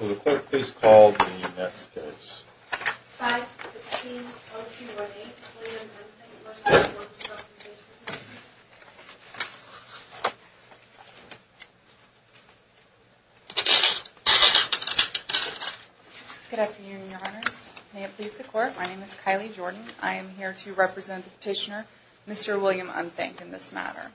Will the court please call the next case? 5-16-0218 William Unthank v. Workers' Compensation Comm'n Good afternoon, Your Honors. May it please the court, my name is Kylie Jordan. I am here to represent the petitioner, Mr. William Unthank, in this matter.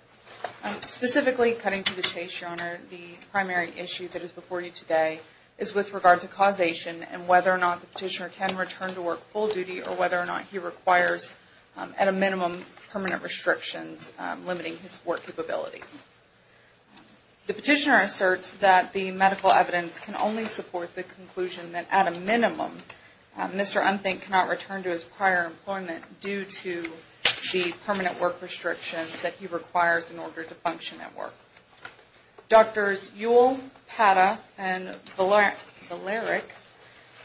Specifically, cutting to the chase, Your Honor, the primary issue that is before you today is with regard to causation and whether or not the petitioner can return to work full duty or whether or not he requires, at a minimum, permanent restrictions limiting his work capabilities. The petitioner asserts that the medical evidence can only support the conclusion that, at a minimum, Mr. Unthank cannot return to his prior employment due to the permanent work restrictions that he requires in order to function at work. Doctors Ewell, Pata, and Valeric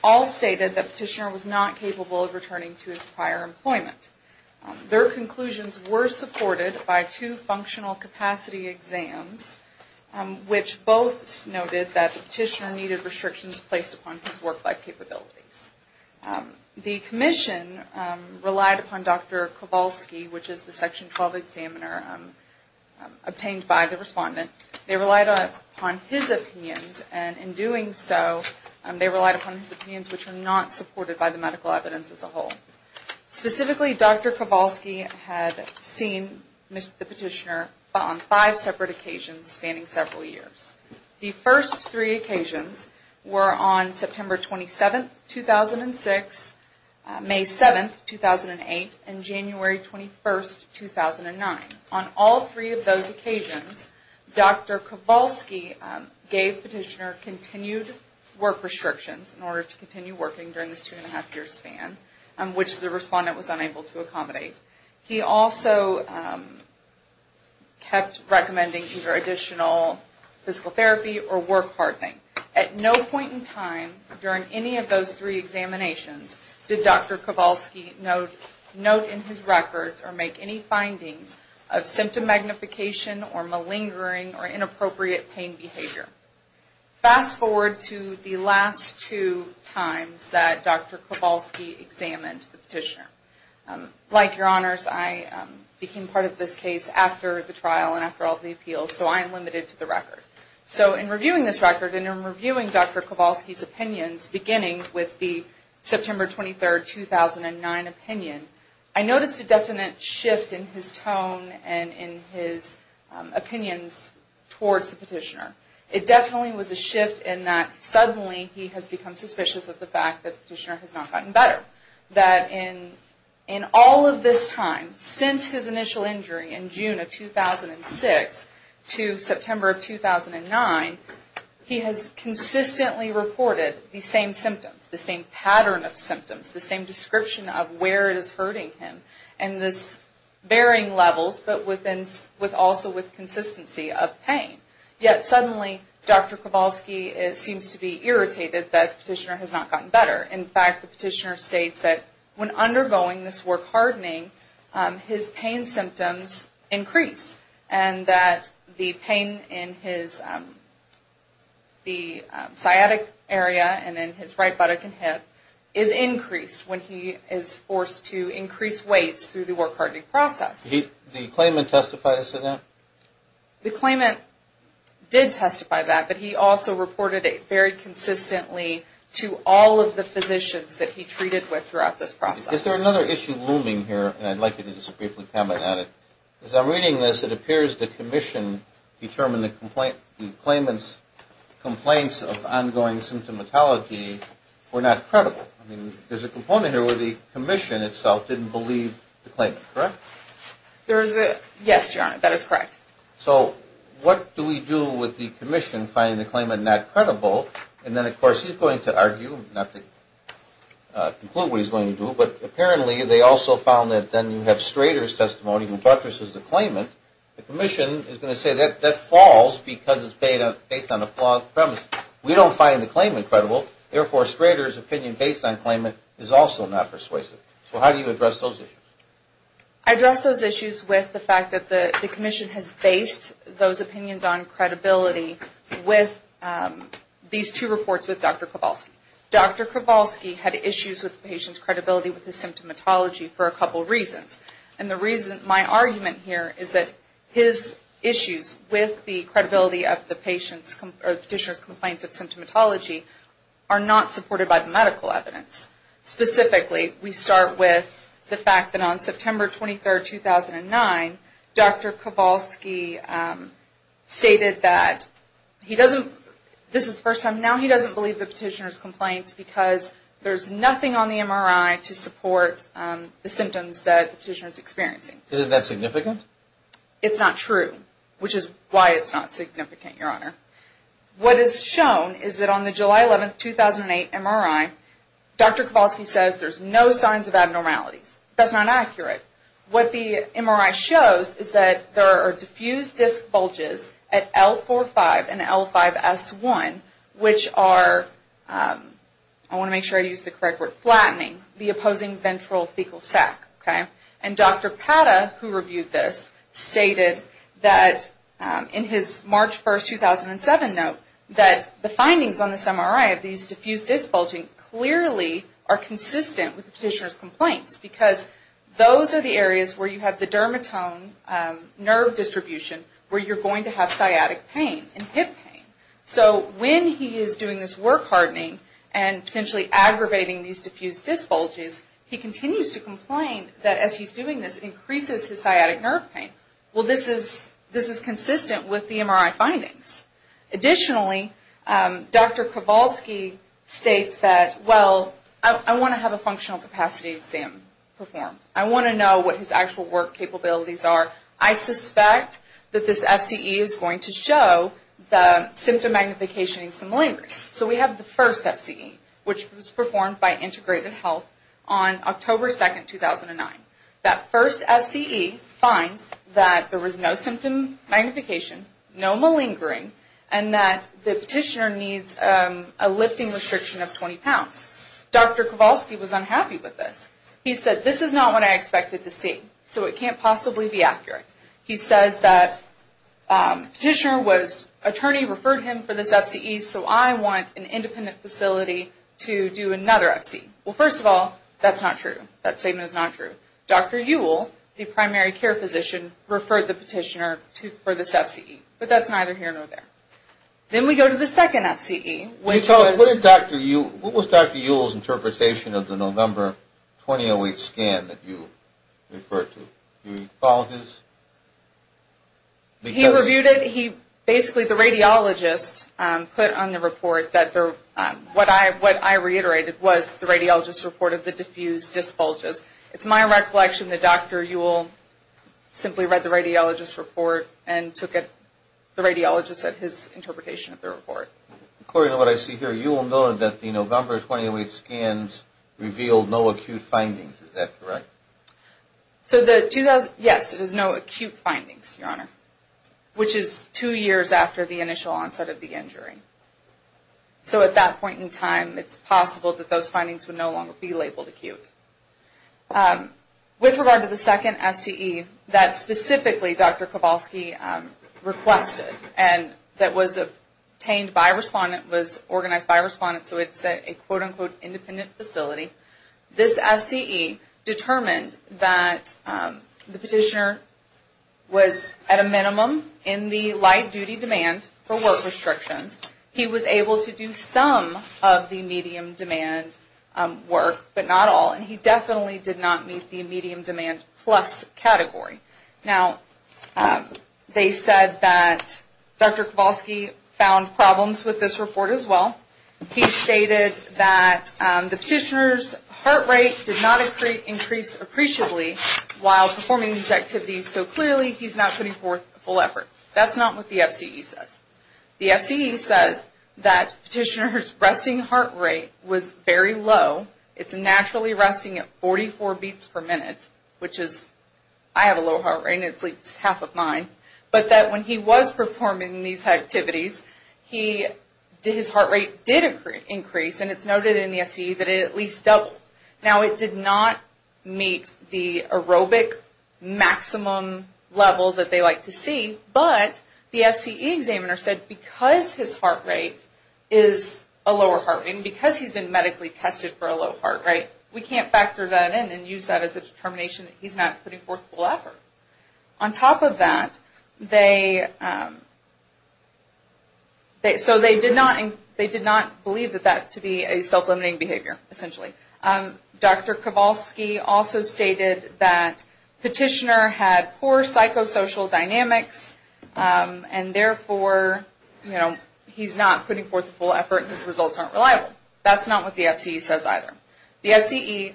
all stated that the petitioner was not capable of returning to his prior employment. Their conclusions were supported by two functional capacity exams, which both noted that the petitioner needed restrictions placed upon his work-life capabilities. The Commission relied upon Dr. Kowalski, which is the Section 12 examiner obtained by the respondent. They relied upon his opinions, and in doing so, they relied upon his opinions which were not supported by the medical evidence as a whole. Specifically, Dr. Kowalski had seen the petitioner on five separate occasions spanning several years. The first three occasions were on September 27, 2006, May 7, 2008, and January 21, 2009. On all three of those occasions, Dr. Kowalski gave petitioner continued work restrictions in order to continue working during this two-and-a-half-year span. Which the respondent was unable to accommodate. He also kept recommending either additional physical therapy or work hardening. At no point in time during any of those three examinations did Dr. Kowalski note in his records or make any findings of symptom magnification or malingering or inappropriate pain behavior. Fast forward to the last two times that Dr. Kowalski examined the petitioner. Like your honors, I became part of this case after the trial and after all the appeals, so I am limited to the record. In reviewing this record and in reviewing Dr. Kowalski's opinions, beginning with the September 23, 2009 opinion, I noticed a definite shift in his tone and in his opinions towards the petitioner. It definitely was a shift in that suddenly he has become suspicious of the fact that the petitioner has not gotten better. That in all of this time, since his initial injury in June of 2006 to September of 2009, he has consistently reported the same symptoms, the same pattern of symptoms, the same description of where it is hurting him. And this varying levels, but also with consistency of pain. Yet suddenly Dr. Kowalski seems to be irritated that the petitioner has not gotten better. In fact, the petitioner states that when undergoing this work hardening, his pain symptoms increase. And that the pain in his sciatic area and in his right buttock and hip is increased when he is forced to increase weights through the work hardening process. Did the claimant testify to that? The claimant did testify to that, but he also reported it very consistently to all of the physicians that he treated with throughout this process. Is there another issue looming here, and I'd like you to just briefly comment on it. As I'm reading this, it appears the commission determined the claimant's complaints of ongoing symptomatology were not credible. I mean, there's a component here where the commission itself didn't believe the claimant, correct? Yes, Your Honor, that is correct. So what do we do with the commission finding the claimant not credible? And then, of course, he's going to argue, not to conclude what he's going to do, but apparently they also found that then you have Strader's testimony who buttresses the claimant. The commission is going to say that that falls because it's based on a flawed premise. We don't find the claimant credible, therefore, Strader's opinion based on claimant is also not persuasive. So how do you address those issues? I address those issues with the fact that the commission has based those opinions on credibility with these two reports with Dr. Kowalski. Dr. Kowalski had issues with the patient's credibility with his symptomatology for a couple reasons, and the reason, my argument here is that his issues with the credibility of the patient's, or the petitioner's complaints of symptomatology are not supported by the medical evidence. Specifically, we start with the fact that on September 23, 2009, Dr. Kowalski stated that he doesn't, this is the first time, now he doesn't believe the petitioner's complaints because there's nothing on the MRI to support the symptoms that the petitioner's experiencing. Isn't that significant? It's not true, which is why it's not significant, Your Honor. What is shown is that on the July 11, 2008 MRI, Dr. Kowalski says there's no signs of abnormalities. That's not accurate. What the MRI shows is that there are diffused disc bulges at L4-5 and L5-S1, which are, I want to make sure I use the correct word, flattening, the opposing ventral fecal sac. And Dr. Pata, who reviewed this, stated that in his March 1, 2007 note that the findings on this MRI of these diffused disc bulging clearly are consistent with the petitioner's complaints because those are the areas where you have the dermatome nerve distribution where you're going to have sciatic pain and hip pain. So when he is doing this work hardening and potentially aggravating these diffused disc bulges, he continues to complain that as he's doing this, it increases his sciatic nerve pain. Well, this is consistent with the MRI findings. Additionally, Dr. Kowalski states that, well, I want to have a functional capacity exam performed. I want to know what his actual work capabilities are. I suspect that this FCE is going to show the symptom magnification in some language. So we have the first FCE, which was performed by Integrated Health on October 2, 2009. That first FCE finds that there was no symptom magnification, no malingering, and that the petitioner needs a lifting restriction of 20 pounds. Dr. Kowalski was unhappy with this. He said, this is not what I expected to see, so it can't possibly be accurate. He says that petitioner was, attorney referred him for this FCE, so I want an independent facility to do another FCE. Well, first of all, that's not true. That statement is not true. Dr. Ewell, the primary care physician, referred the petitioner for this FCE, but that's neither here nor there. Then we go to the second FCE. What was Dr. Ewell's interpretation of the November 2008 scan that you referred to? He basically, the radiologist, put on the report, what I reiterated was the radiologist's report of the diffused dysbulges. It's my recollection that Dr. Ewell simply read the radiologist's report and took the radiologist at his interpretation of the report. Based on what I see here, you will note that the November 2008 scans revealed no acute findings. Is that correct? Yes, it is no acute findings, your honor, which is two years after the initial onset of the injury. So at that point in time, it's possible that those findings would no longer be labeled acute. With regard to the second FCE, that specifically Dr. Kowalski requested, and that was obtained by a respondent, was organized by a respondent, so it's a quote-unquote independent facility, this FCE determined that the petitioner was at a minimum in the light duty demand for work restrictions. He was able to do some of the medium demand work, but not all, and he definitely did not meet the medium demand plus category. Now, they said that Dr. Kowalski found problems with this report as well. He stated that the petitioner's heart rate did not increase appreciably while performing these activities, so clearly he's not putting forth a full effort. That's not what the FCE says. The FCE says that petitioner's resting heart rate was very low, it's naturally resting at 44 beats per minute, which is, I have a low heart rate and it's like half of mine, but that when he was performing these activities, his heart rate did increase, and it's noted in the FCE that it at least doubled. Now, it did not meet the aerobic maximum level that they like to see, but the FCE examiner said because his heart rate is a lower heart rate, and because he's been medically tested for a low heart rate, we can't factor that in and use that as a determination that he's not putting forth a full effort. On top of that, they did not believe that that to be a self-limiting behavior, essentially. Dr. Kowalski also stated that petitioner had poor psychosocial dynamics, and therefore he's not putting forth a full effort and his results aren't reliable. That's not what the FCE says either. The FCE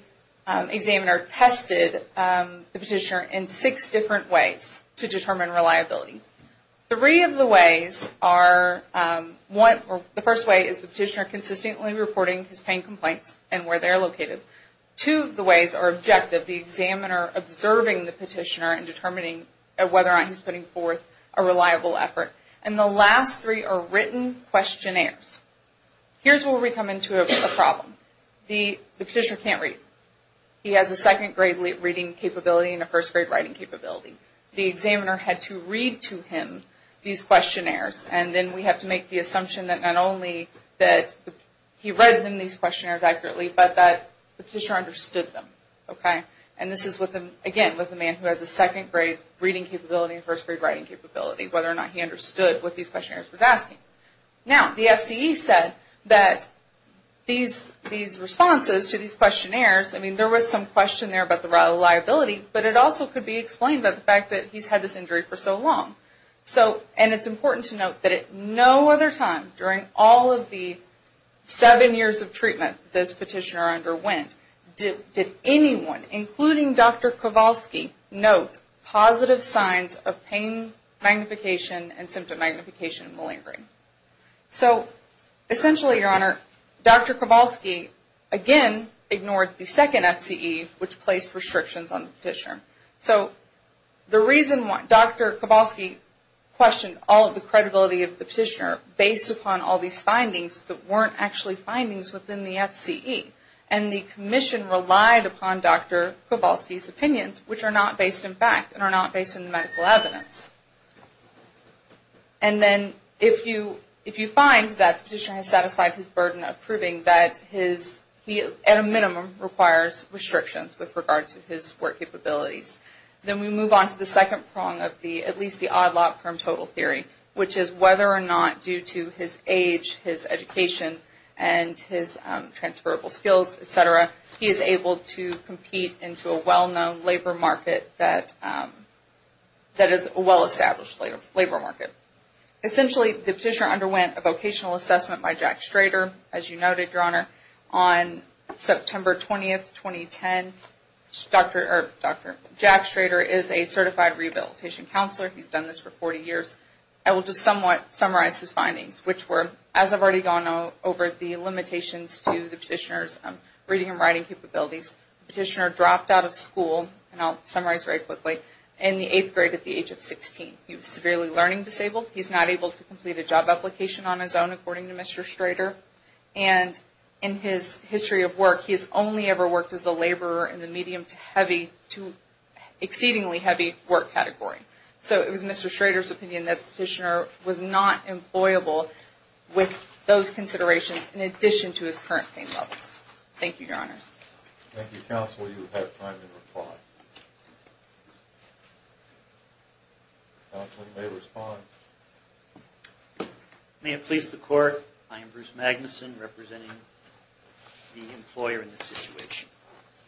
examiner tested the petitioner in six different ways to determine reliability. Three of the ways are, the first way is the petitioner consistently reporting his pain complaints and where they're located. Two of the ways are objective, the examiner observing the petitioner and determining whether or not he's putting forth a reliable effort. And the last three are written questionnaires. Here's where we come into a problem. The petitioner can't read. He has a second grade reading capability and a first grade writing capability. The examiner had to read to him these questionnaires and then we have to make the assumption that not only that he read these questionnaires accurately, but that the petitioner understood them. And this is again with a man who has a second grade reading capability and first grade writing capability, whether or not he understood what these questionnaires were asking. Now, the FCE said that these responses to these questionnaires, I mean there was some question there about the reliability, but it also could be explained by the fact that he's had this injury for so long. And it's important to note that at no other time during all of the seven years of treatment this petitioner underwent, did anyone, including Dr. Kowalski, note positive signs of pain magnification and symptom magnification and malingering. So essentially, Your Honor, Dr. Kowalski again ignored the second FCE, which placed restrictions on the petitioner. So the reason Dr. Kowalski questioned all of the credibility of the petitioner based upon all of these findings that weren't actually findings within the FCE and the commission relied upon Dr. Kowalski's opinions, which are not based in fact and are not based in the medical evidence. And then if you find that the petitioner has satisfied his burden of proving that he at a minimum requires restrictions with regard to his work capabilities, then we move on to the second prong of the, at least the odd lot from total theory, which is whether or not due to his age, his education, and his transferable skills, et cetera, he is able to compete into a well-known labor market that is a well-established labor market. Essentially, the petitioner underwent a vocational assessment by Jack Schrader, as you noted, Your Honor, on September 20th, 2010. Dr. Jack Schrader is a certified rehabilitation counselor. He's done this for 40 years. I will just somewhat summarize his findings, which were, as I've already gone over the limitations to the petitioner's reading and writing capabilities, the petitioner dropped out of school, and I'll summarize very quickly, in the eighth grade at the age of 16. He was severely learning disabled. He's not able to complete a job application on his own, according to Mr. Schrader. And in his history of work, he has only ever worked as a laborer in the medium to heavy, to exceedingly heavy work category. So it was Mr. Schrader's opinion that the petitioner was not employable with those considerations, in addition to his current pain levels. Thank you, Your Honors. Thank you, Counsel. You have time to reply. Counsel, you may respond. May it please the Court, I am Bruce Magnuson, representing the employer in this situation.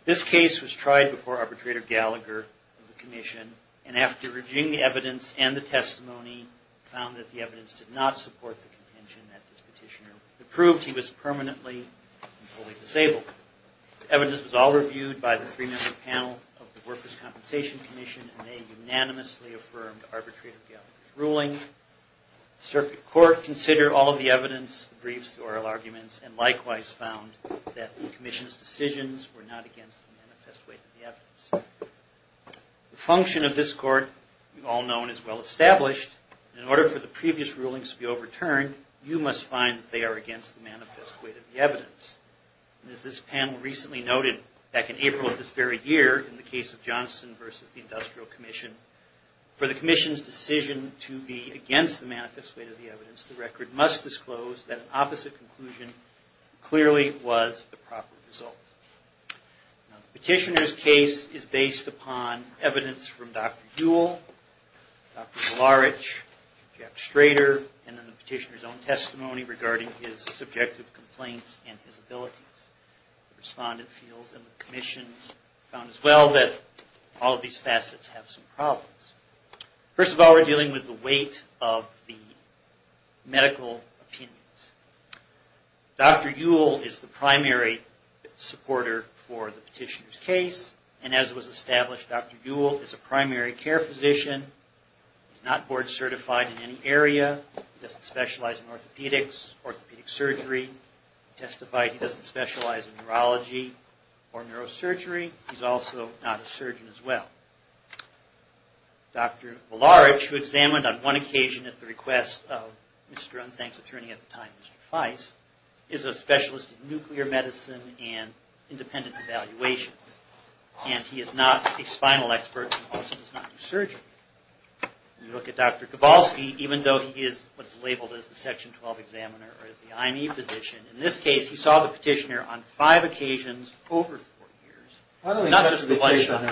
This case was tried before Arbitrator Gallagher of the Commission, and after reviewing the evidence and the testimony, found that the evidence did not support the contention that this petitioner proved he was permanently and fully disabled. The evidence was all reviewed by the three-member panel of the Workers' Compensation Commission, and they unanimously affirmed Arbitrator Gallagher's ruling. The circuit court considered all of the evidence, the briefs, the oral arguments, and likewise found that the Commission's decisions were not against the manifest weight of the evidence. The function of this court, we've all known, is well-established. In order for the previous rulings to be overturned, you must find that they are against the manifest weight of the evidence. As this panel recently noted, back in April of this very year, in the case of Johnson v. The Industrial Commission, for the Commission's decision to be against the manifest weight of the evidence, the record must disclose that an opposite conclusion clearly was the proper result. Now, the petitioner's case is based upon evidence from Dr. Jewell, Dr. Zolarich, Jack Schrader, and then the petitioner's own testimony regarding his subjective complaints and his abilities. The respondent feels, and the Commission found as well, that all of these facets have some problems. First of all, we're dealing with the weight of the medical opinions. Dr. Jewell is the primary supporter for the petitioner's case, and as was established, Dr. Jewell is a primary care physician. He's not board-certified in any area. He doesn't specialize in orthopedics, orthopedic surgery. He testified he doesn't specialize in neurology or neurosurgery. He's also not a surgeon as well. Dr. Zolarich, who examined on one occasion at the request of Mr. Unthank's attorney at the time, Mr. Feiss, is a specialist in nuclear medicine and independent evaluations. And he is not a spinal expert and also does not do surgery. You look at Dr. Kowalski, even though he is what's labeled as the Section 12 examiner or the I.N.E. physician, in this case he saw the petitioner on five occasions over four years, not just the one shot.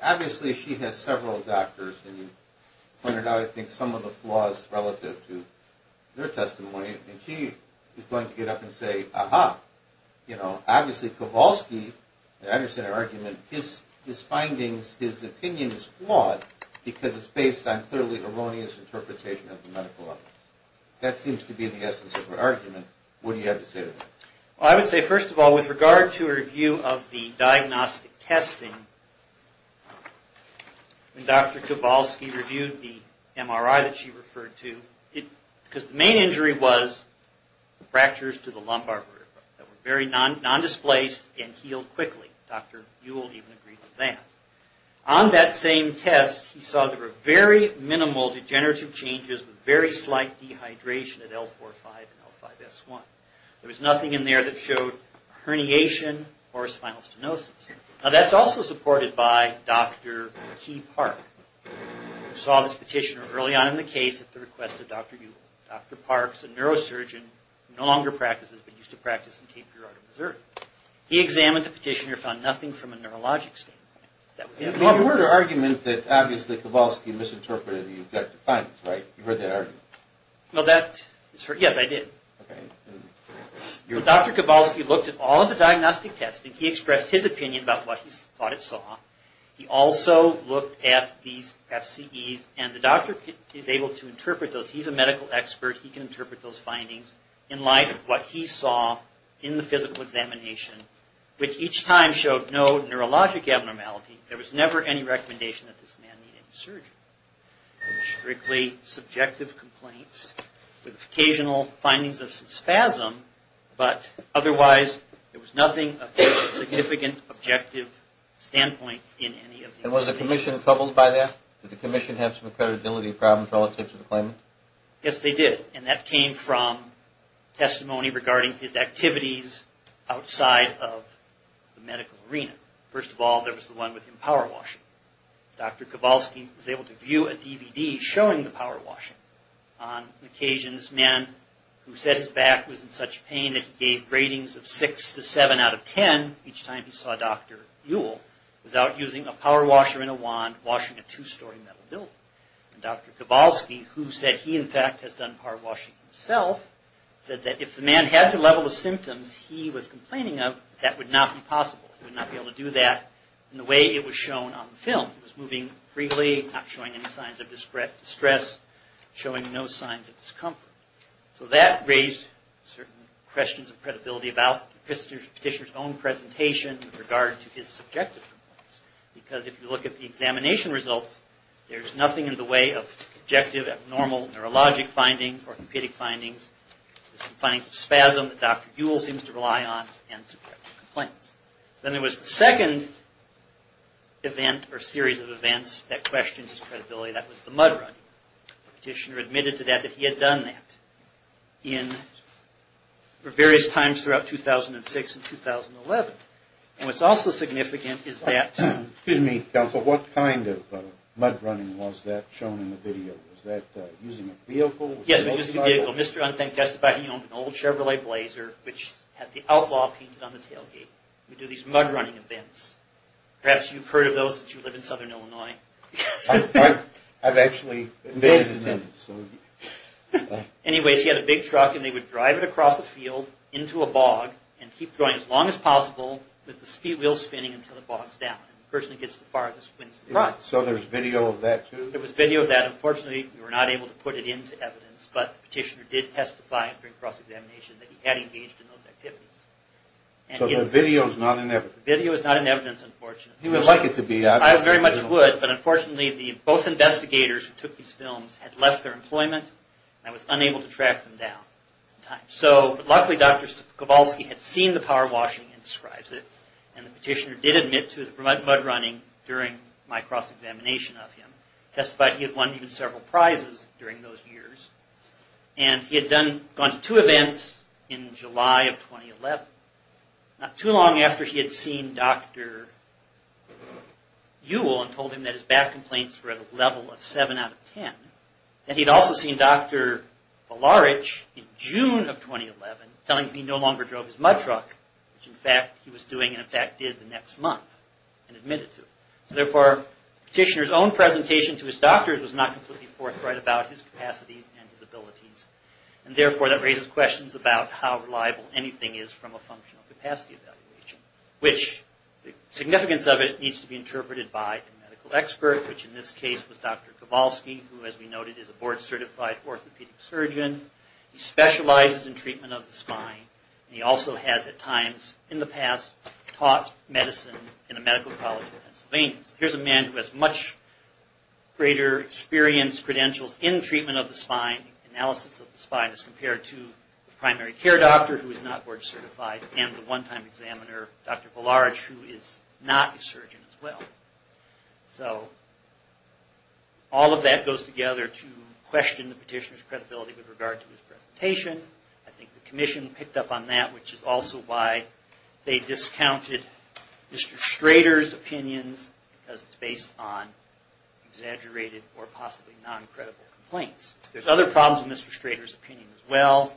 Obviously, she has several doctors, and you pointed out, I think, some of the flaws relative to their testimony. And she is going to get up and say, aha. Obviously, Kowalski, I understand her argument, his findings, his opinion is flawed because it's based on clearly erroneous interpretation of the medical evidence. That seems to be the essence of her argument. What do you have to say to that? Well, I would say, first of all, with regard to her view of the diagnostic testing, when Dr. Kowalski reviewed the MRI that she referred to, because the main injury was fractures to the lumbar vertebrae that were very non-displaced and healed quickly. Dr. Buell even agreed with that. On that same test, he saw there were very minimal degenerative changes with very slight dehydration at L4-5 and L5-S1. There was nothing in there that showed herniation or spinal stenosis. Now, that's also supported by Dr. Kee Park, who saw this petitioner early on in the case at the request of Dr. Ewell. Dr. Park is a neurosurgeon who no longer practices, but used to practice in Cape Verde, Missouri. He examined the petitioner and found nothing from a neurologic standpoint. You heard an argument that, obviously, Kowalski misinterpreted and you've got to find it, right? You heard that argument? Yes, I did. Dr. Kowalski looked at all of the diagnostic testing. He expressed his opinion about what he thought it saw. He also looked at these FCEs and the doctor is able to interpret those. He's a medical expert. He can interpret those findings in light of what he saw in the physical examination, which each time showed no neurologic abnormality. There was never any recommendation that this man needed surgery. Strictly subjective complaints with occasional findings of spasm, but otherwise there was nothing of a significant objective standpoint in any of these cases. And was the commission troubled by that? Did the commission have some credibility problems relative to the claimant? Yes, they did, and that came from testimony regarding his activities outside of the medical arena. First of all, there was the one with him power washing. Dr. Kowalski was able to view a DVD showing the power washing. On occasions, men who said his back was in such pain that he gave ratings of 6 to 7 out of 10 each time he saw Dr. Ewell without using a power washer and a wand, washing a two-story metal building. Dr. Kowalski, who said he, in fact, has done power washing himself, said that if the man had the level of symptoms he was complaining of, that would not be possible. He would not be able to do that in the way it was shown on the film. He was moving freely, not showing any signs of distress, showing no signs of discomfort. So that raised certain questions of credibility about the petitioner's own presentation in regard to his subjective complaints. Because if you look at the examination results, there's nothing in the way of objective, abnormal neurologic findings, orthopedic findings, findings of spasm that Dr. Ewell seems to rely on, and subjective complaints. Then there was the second event or series of events that questions his credibility. That was the mud running. The petitioner admitted to that that he had done that in various times throughout 2006 and 2011. And what's also significant is that... Excuse me, counsel, what kind of mud running was that shown in the video? Was that using a vehicle? Yes, it was just a vehicle. He owned an old Chevrolet Blazer, which had the outlaw painted on the tailgate. We do these mud running events. Perhaps you've heard of those since you live in southern Illinois. I've actually invented them. Anyways, he had a big truck, and they would drive it across the field into a bog, and keep going as long as possible with the speed wheel spinning until it bogs down. The person who gets the farthest wins the prize. So there's video of that, too? There was video of that. Unfortunately, we were not able to put it into evidence, but the petitioner did testify during cross-examination that he had engaged in those activities. So the video is not in evidence? The video is not in evidence, unfortunately. He would like it to be. I very much would, but unfortunately, both investigators who took these films had left their employment, and I was unable to track them down. Luckily, Dr. Kowalski had seen the power washing and describes it, and the petitioner did admit to the mud running during my cross-examination of him. He testified he had won several prizes during those years, and he had gone to two events in July of 2011, not too long after he had seen Dr. Ewell, and told him that his back complaints were at a level of 7 out of 10. And he'd also seen Dr. Valarich in June of 2011, telling him he no longer drove his mud truck, which in fact he was doing, and in fact did the next month, and admitted to it. So therefore, the petitioner's own presentation to his doctors was not completely forthright about his capacities and his abilities, and therefore that raises questions about how reliable anything is from a functional capacity evaluation, which the significance of it needs to be interpreted by a medical expert, which in this case was Dr. Kowalski, who as we noted is a board-certified orthopedic surgeon. He specializes in treatment of the spine, and he also has at times in the past taught medicine in a medical college in Pennsylvania. So here's a man who has much greater experience, credentials in treatment of the spine, analysis of the spine, as compared to the primary care doctor, who is not board-certified, and the one-time examiner, Dr. Valarich, who is not a surgeon as well. So all of that goes together to question the petitioner's credibility with regard to his presentation. I think the commission picked up on that, which is also why they discounted Mr. Strader's opinions, because it's based on exaggerated or possibly non-credible complaints. There's other problems with Mr. Strader's opinion as well.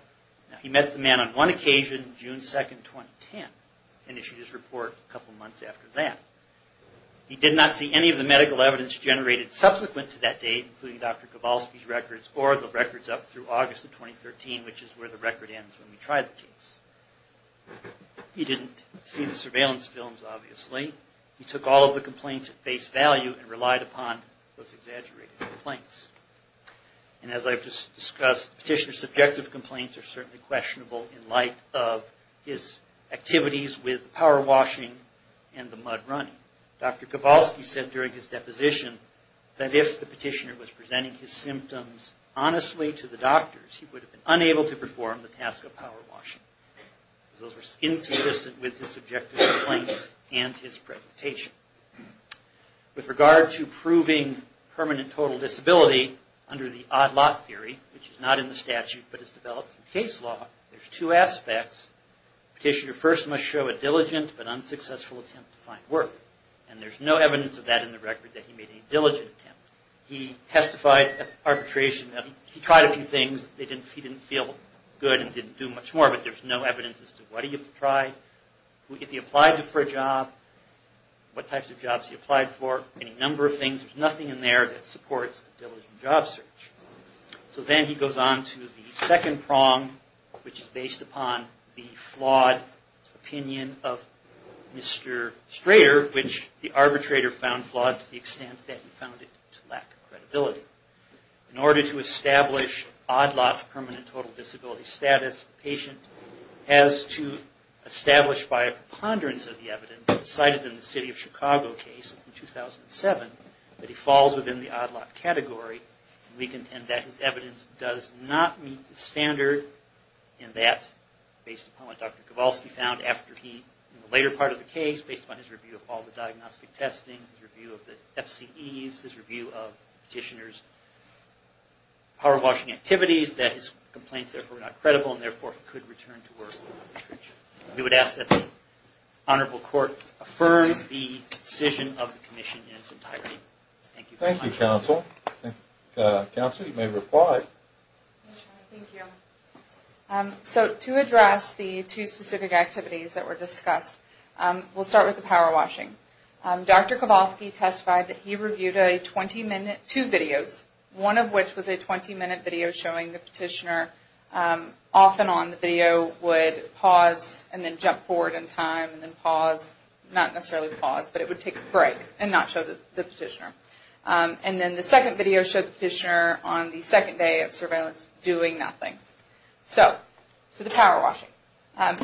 He met the man on one occasion, June 2, 2010, and issued his report a couple months after that. He did not see any of the medical evidence generated subsequent to that date, including Dr. Kowalski's records or the records up through August of 2013, which is where the record ends when we try the case. He didn't see the surveillance films, obviously. He took all of the complaints at face value and relied upon those exaggerated complaints. And as I've just discussed, the petitioner's subjective complaints are certainly questionable in light of his activities with power washing and the mud running. Dr. Kowalski said during his deposition that if the petitioner was presenting his symptoms honestly to the doctors, he would have been unable to perform the task of power washing. Those were inconsistent with his subjective complaints and his presentation. With regard to proving permanent total disability under the odd lot theory, which is not in the statute but is developed through case law, there's two aspects. Petitioner first must show a diligent but unsuccessful attempt to find work. And there's no evidence of that in the record that he made a diligent attempt. He testified at arbitration that he tried a few things. He didn't feel good and didn't do much more, but there's no evidence as to what he tried, who he applied to for a job, what types of jobs he applied for, any number of things. There's nothing in there that supports a diligent job search. So then he goes on to the second prong, which is based upon the flawed opinion of Mr. Strader, which the arbitrator found flawed to the extent that he found it to lack credibility. In order to establish odd lot permanent total disability status, the patient has to establish by a preponderance of the evidence cited in the city of Chicago case in 2007, that he falls within the odd lot category. We contend that his evidence does not meet the standard in that, based upon what Dr. Kowalski found in the later part of the case, based upon his review of all the diagnostic testing, his review of the FCEs, his review of Petitioner's power washing activities, that his complaints therefore are not credible and therefore he could return to work. We would ask that the Honorable Court affirm the decision of the Commission in its entirety. Thank you very much. Thank you, Counsel. Counsel, you may reply. Thank you. So to address the two specific activities that were discussed, we'll start with the power washing. Dr. Kowalski testified that he reviewed two videos, one of which was a 20-minute video showing the Petitioner off and on. The video would pause and then jump forward in time and then pause, not necessarily pause, but it would take a break and not show the Petitioner. And then the second video showed the Petitioner on the second day of surveillance doing nothing. So the power washing.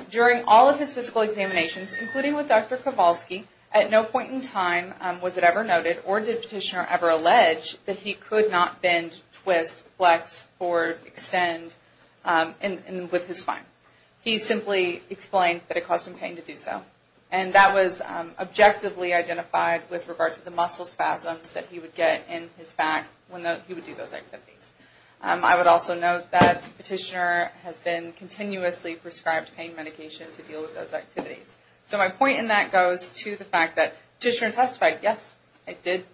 During all of his physical examinations, including with Dr. Kowalski, at no point in time was it ever noted or did Petitioner ever allege that he could not bend, twist, flex, or extend with his spine. He simply explained that it caused him pain to do so. And that was objectively identified with regard to the muscle spasms that he would get in his back when he would do those activities. I would also note that Petitioner has been continuously prescribed pain medication to deal with those activities. So my point in that goes to the fact that Petitioner testified, yes, I did,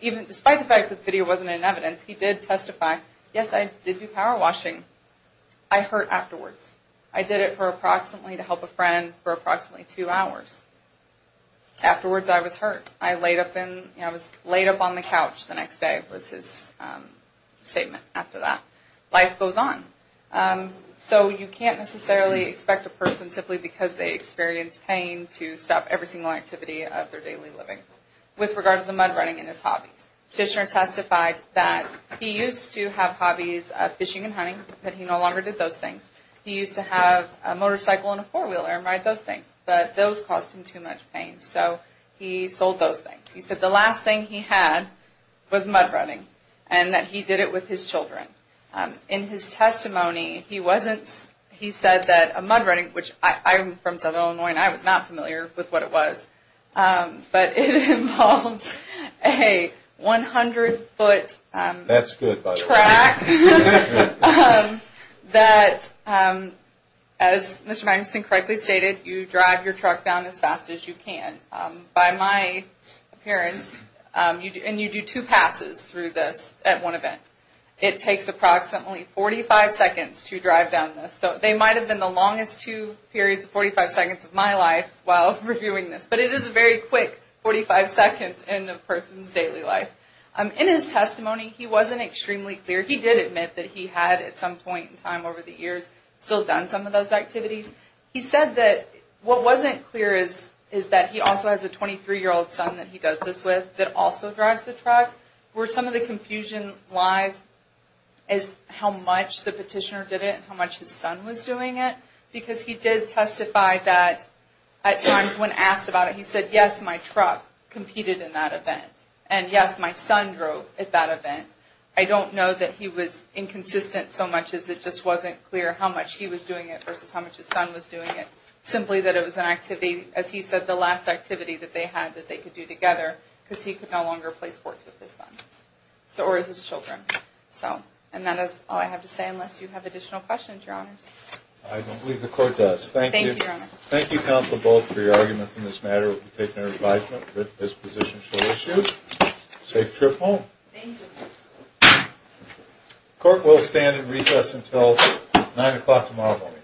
even despite the fact that the video wasn't in evidence, he did testify, yes, I did do power washing. I hurt afterwards. I did it for approximately, to help a friend, for approximately two hours. Afterwards I was hurt. I was laid up on the couch the next day, was his statement after that. Life goes on. So you can't necessarily expect a person, simply because they experience pain, to stop every single activity of their daily living. With regard to the mud running and his hobbies, Petitioner testified that he used to have hobbies of fishing and hunting, but he no longer did those things. He used to have a motorcycle and a four-wheeler and ride those things, but those caused him too much pain. So he sold those things. He said the last thing he had was mud running, and that he did it with his children. In his testimony, he wasn't, he said that a mud running, which I'm from Southern Illinois, and I was not familiar with what it was, but it involves a 100-foot track that, as Mr. Magnuson correctly stated, you drive your truck down as fast as you can. By my appearance, and you do two passes through this at one event, it takes approximately 45 seconds to drive down this. So they might have been the longest two periods of 45 seconds of my life while reviewing this, but it is a very quick 45 seconds in a person's daily life. In his testimony, he wasn't extremely clear. He did admit that he had, at some point in time over the years, still done some of those activities. He said that what wasn't clear is that he also has a 23-year-old son that he does this with, that also drives the truck, where some of the confusion lies is how much the petitioner did it and how much his son was doing it, because he did testify that at times when asked about it, he said, yes, my truck competed in that event, and yes, my son drove at that event. I don't know that he was inconsistent so much as it just wasn't clear how much he was doing it versus how much his son was doing it, simply that it was an activity, as he said, the last activity that they had that they could do together, because he could no longer play sports with his son or his children. And that is all I have to say unless you have additional questions, Your Honors. I don't believe the court does. Thank you. Thank you, Your Honor. Thank you, counsel, both, for your arguments in this matter. We take no advisement that this position should issue. Safe trip home. Thank you. Court will stand in recess until 9 o'clock tomorrow morning.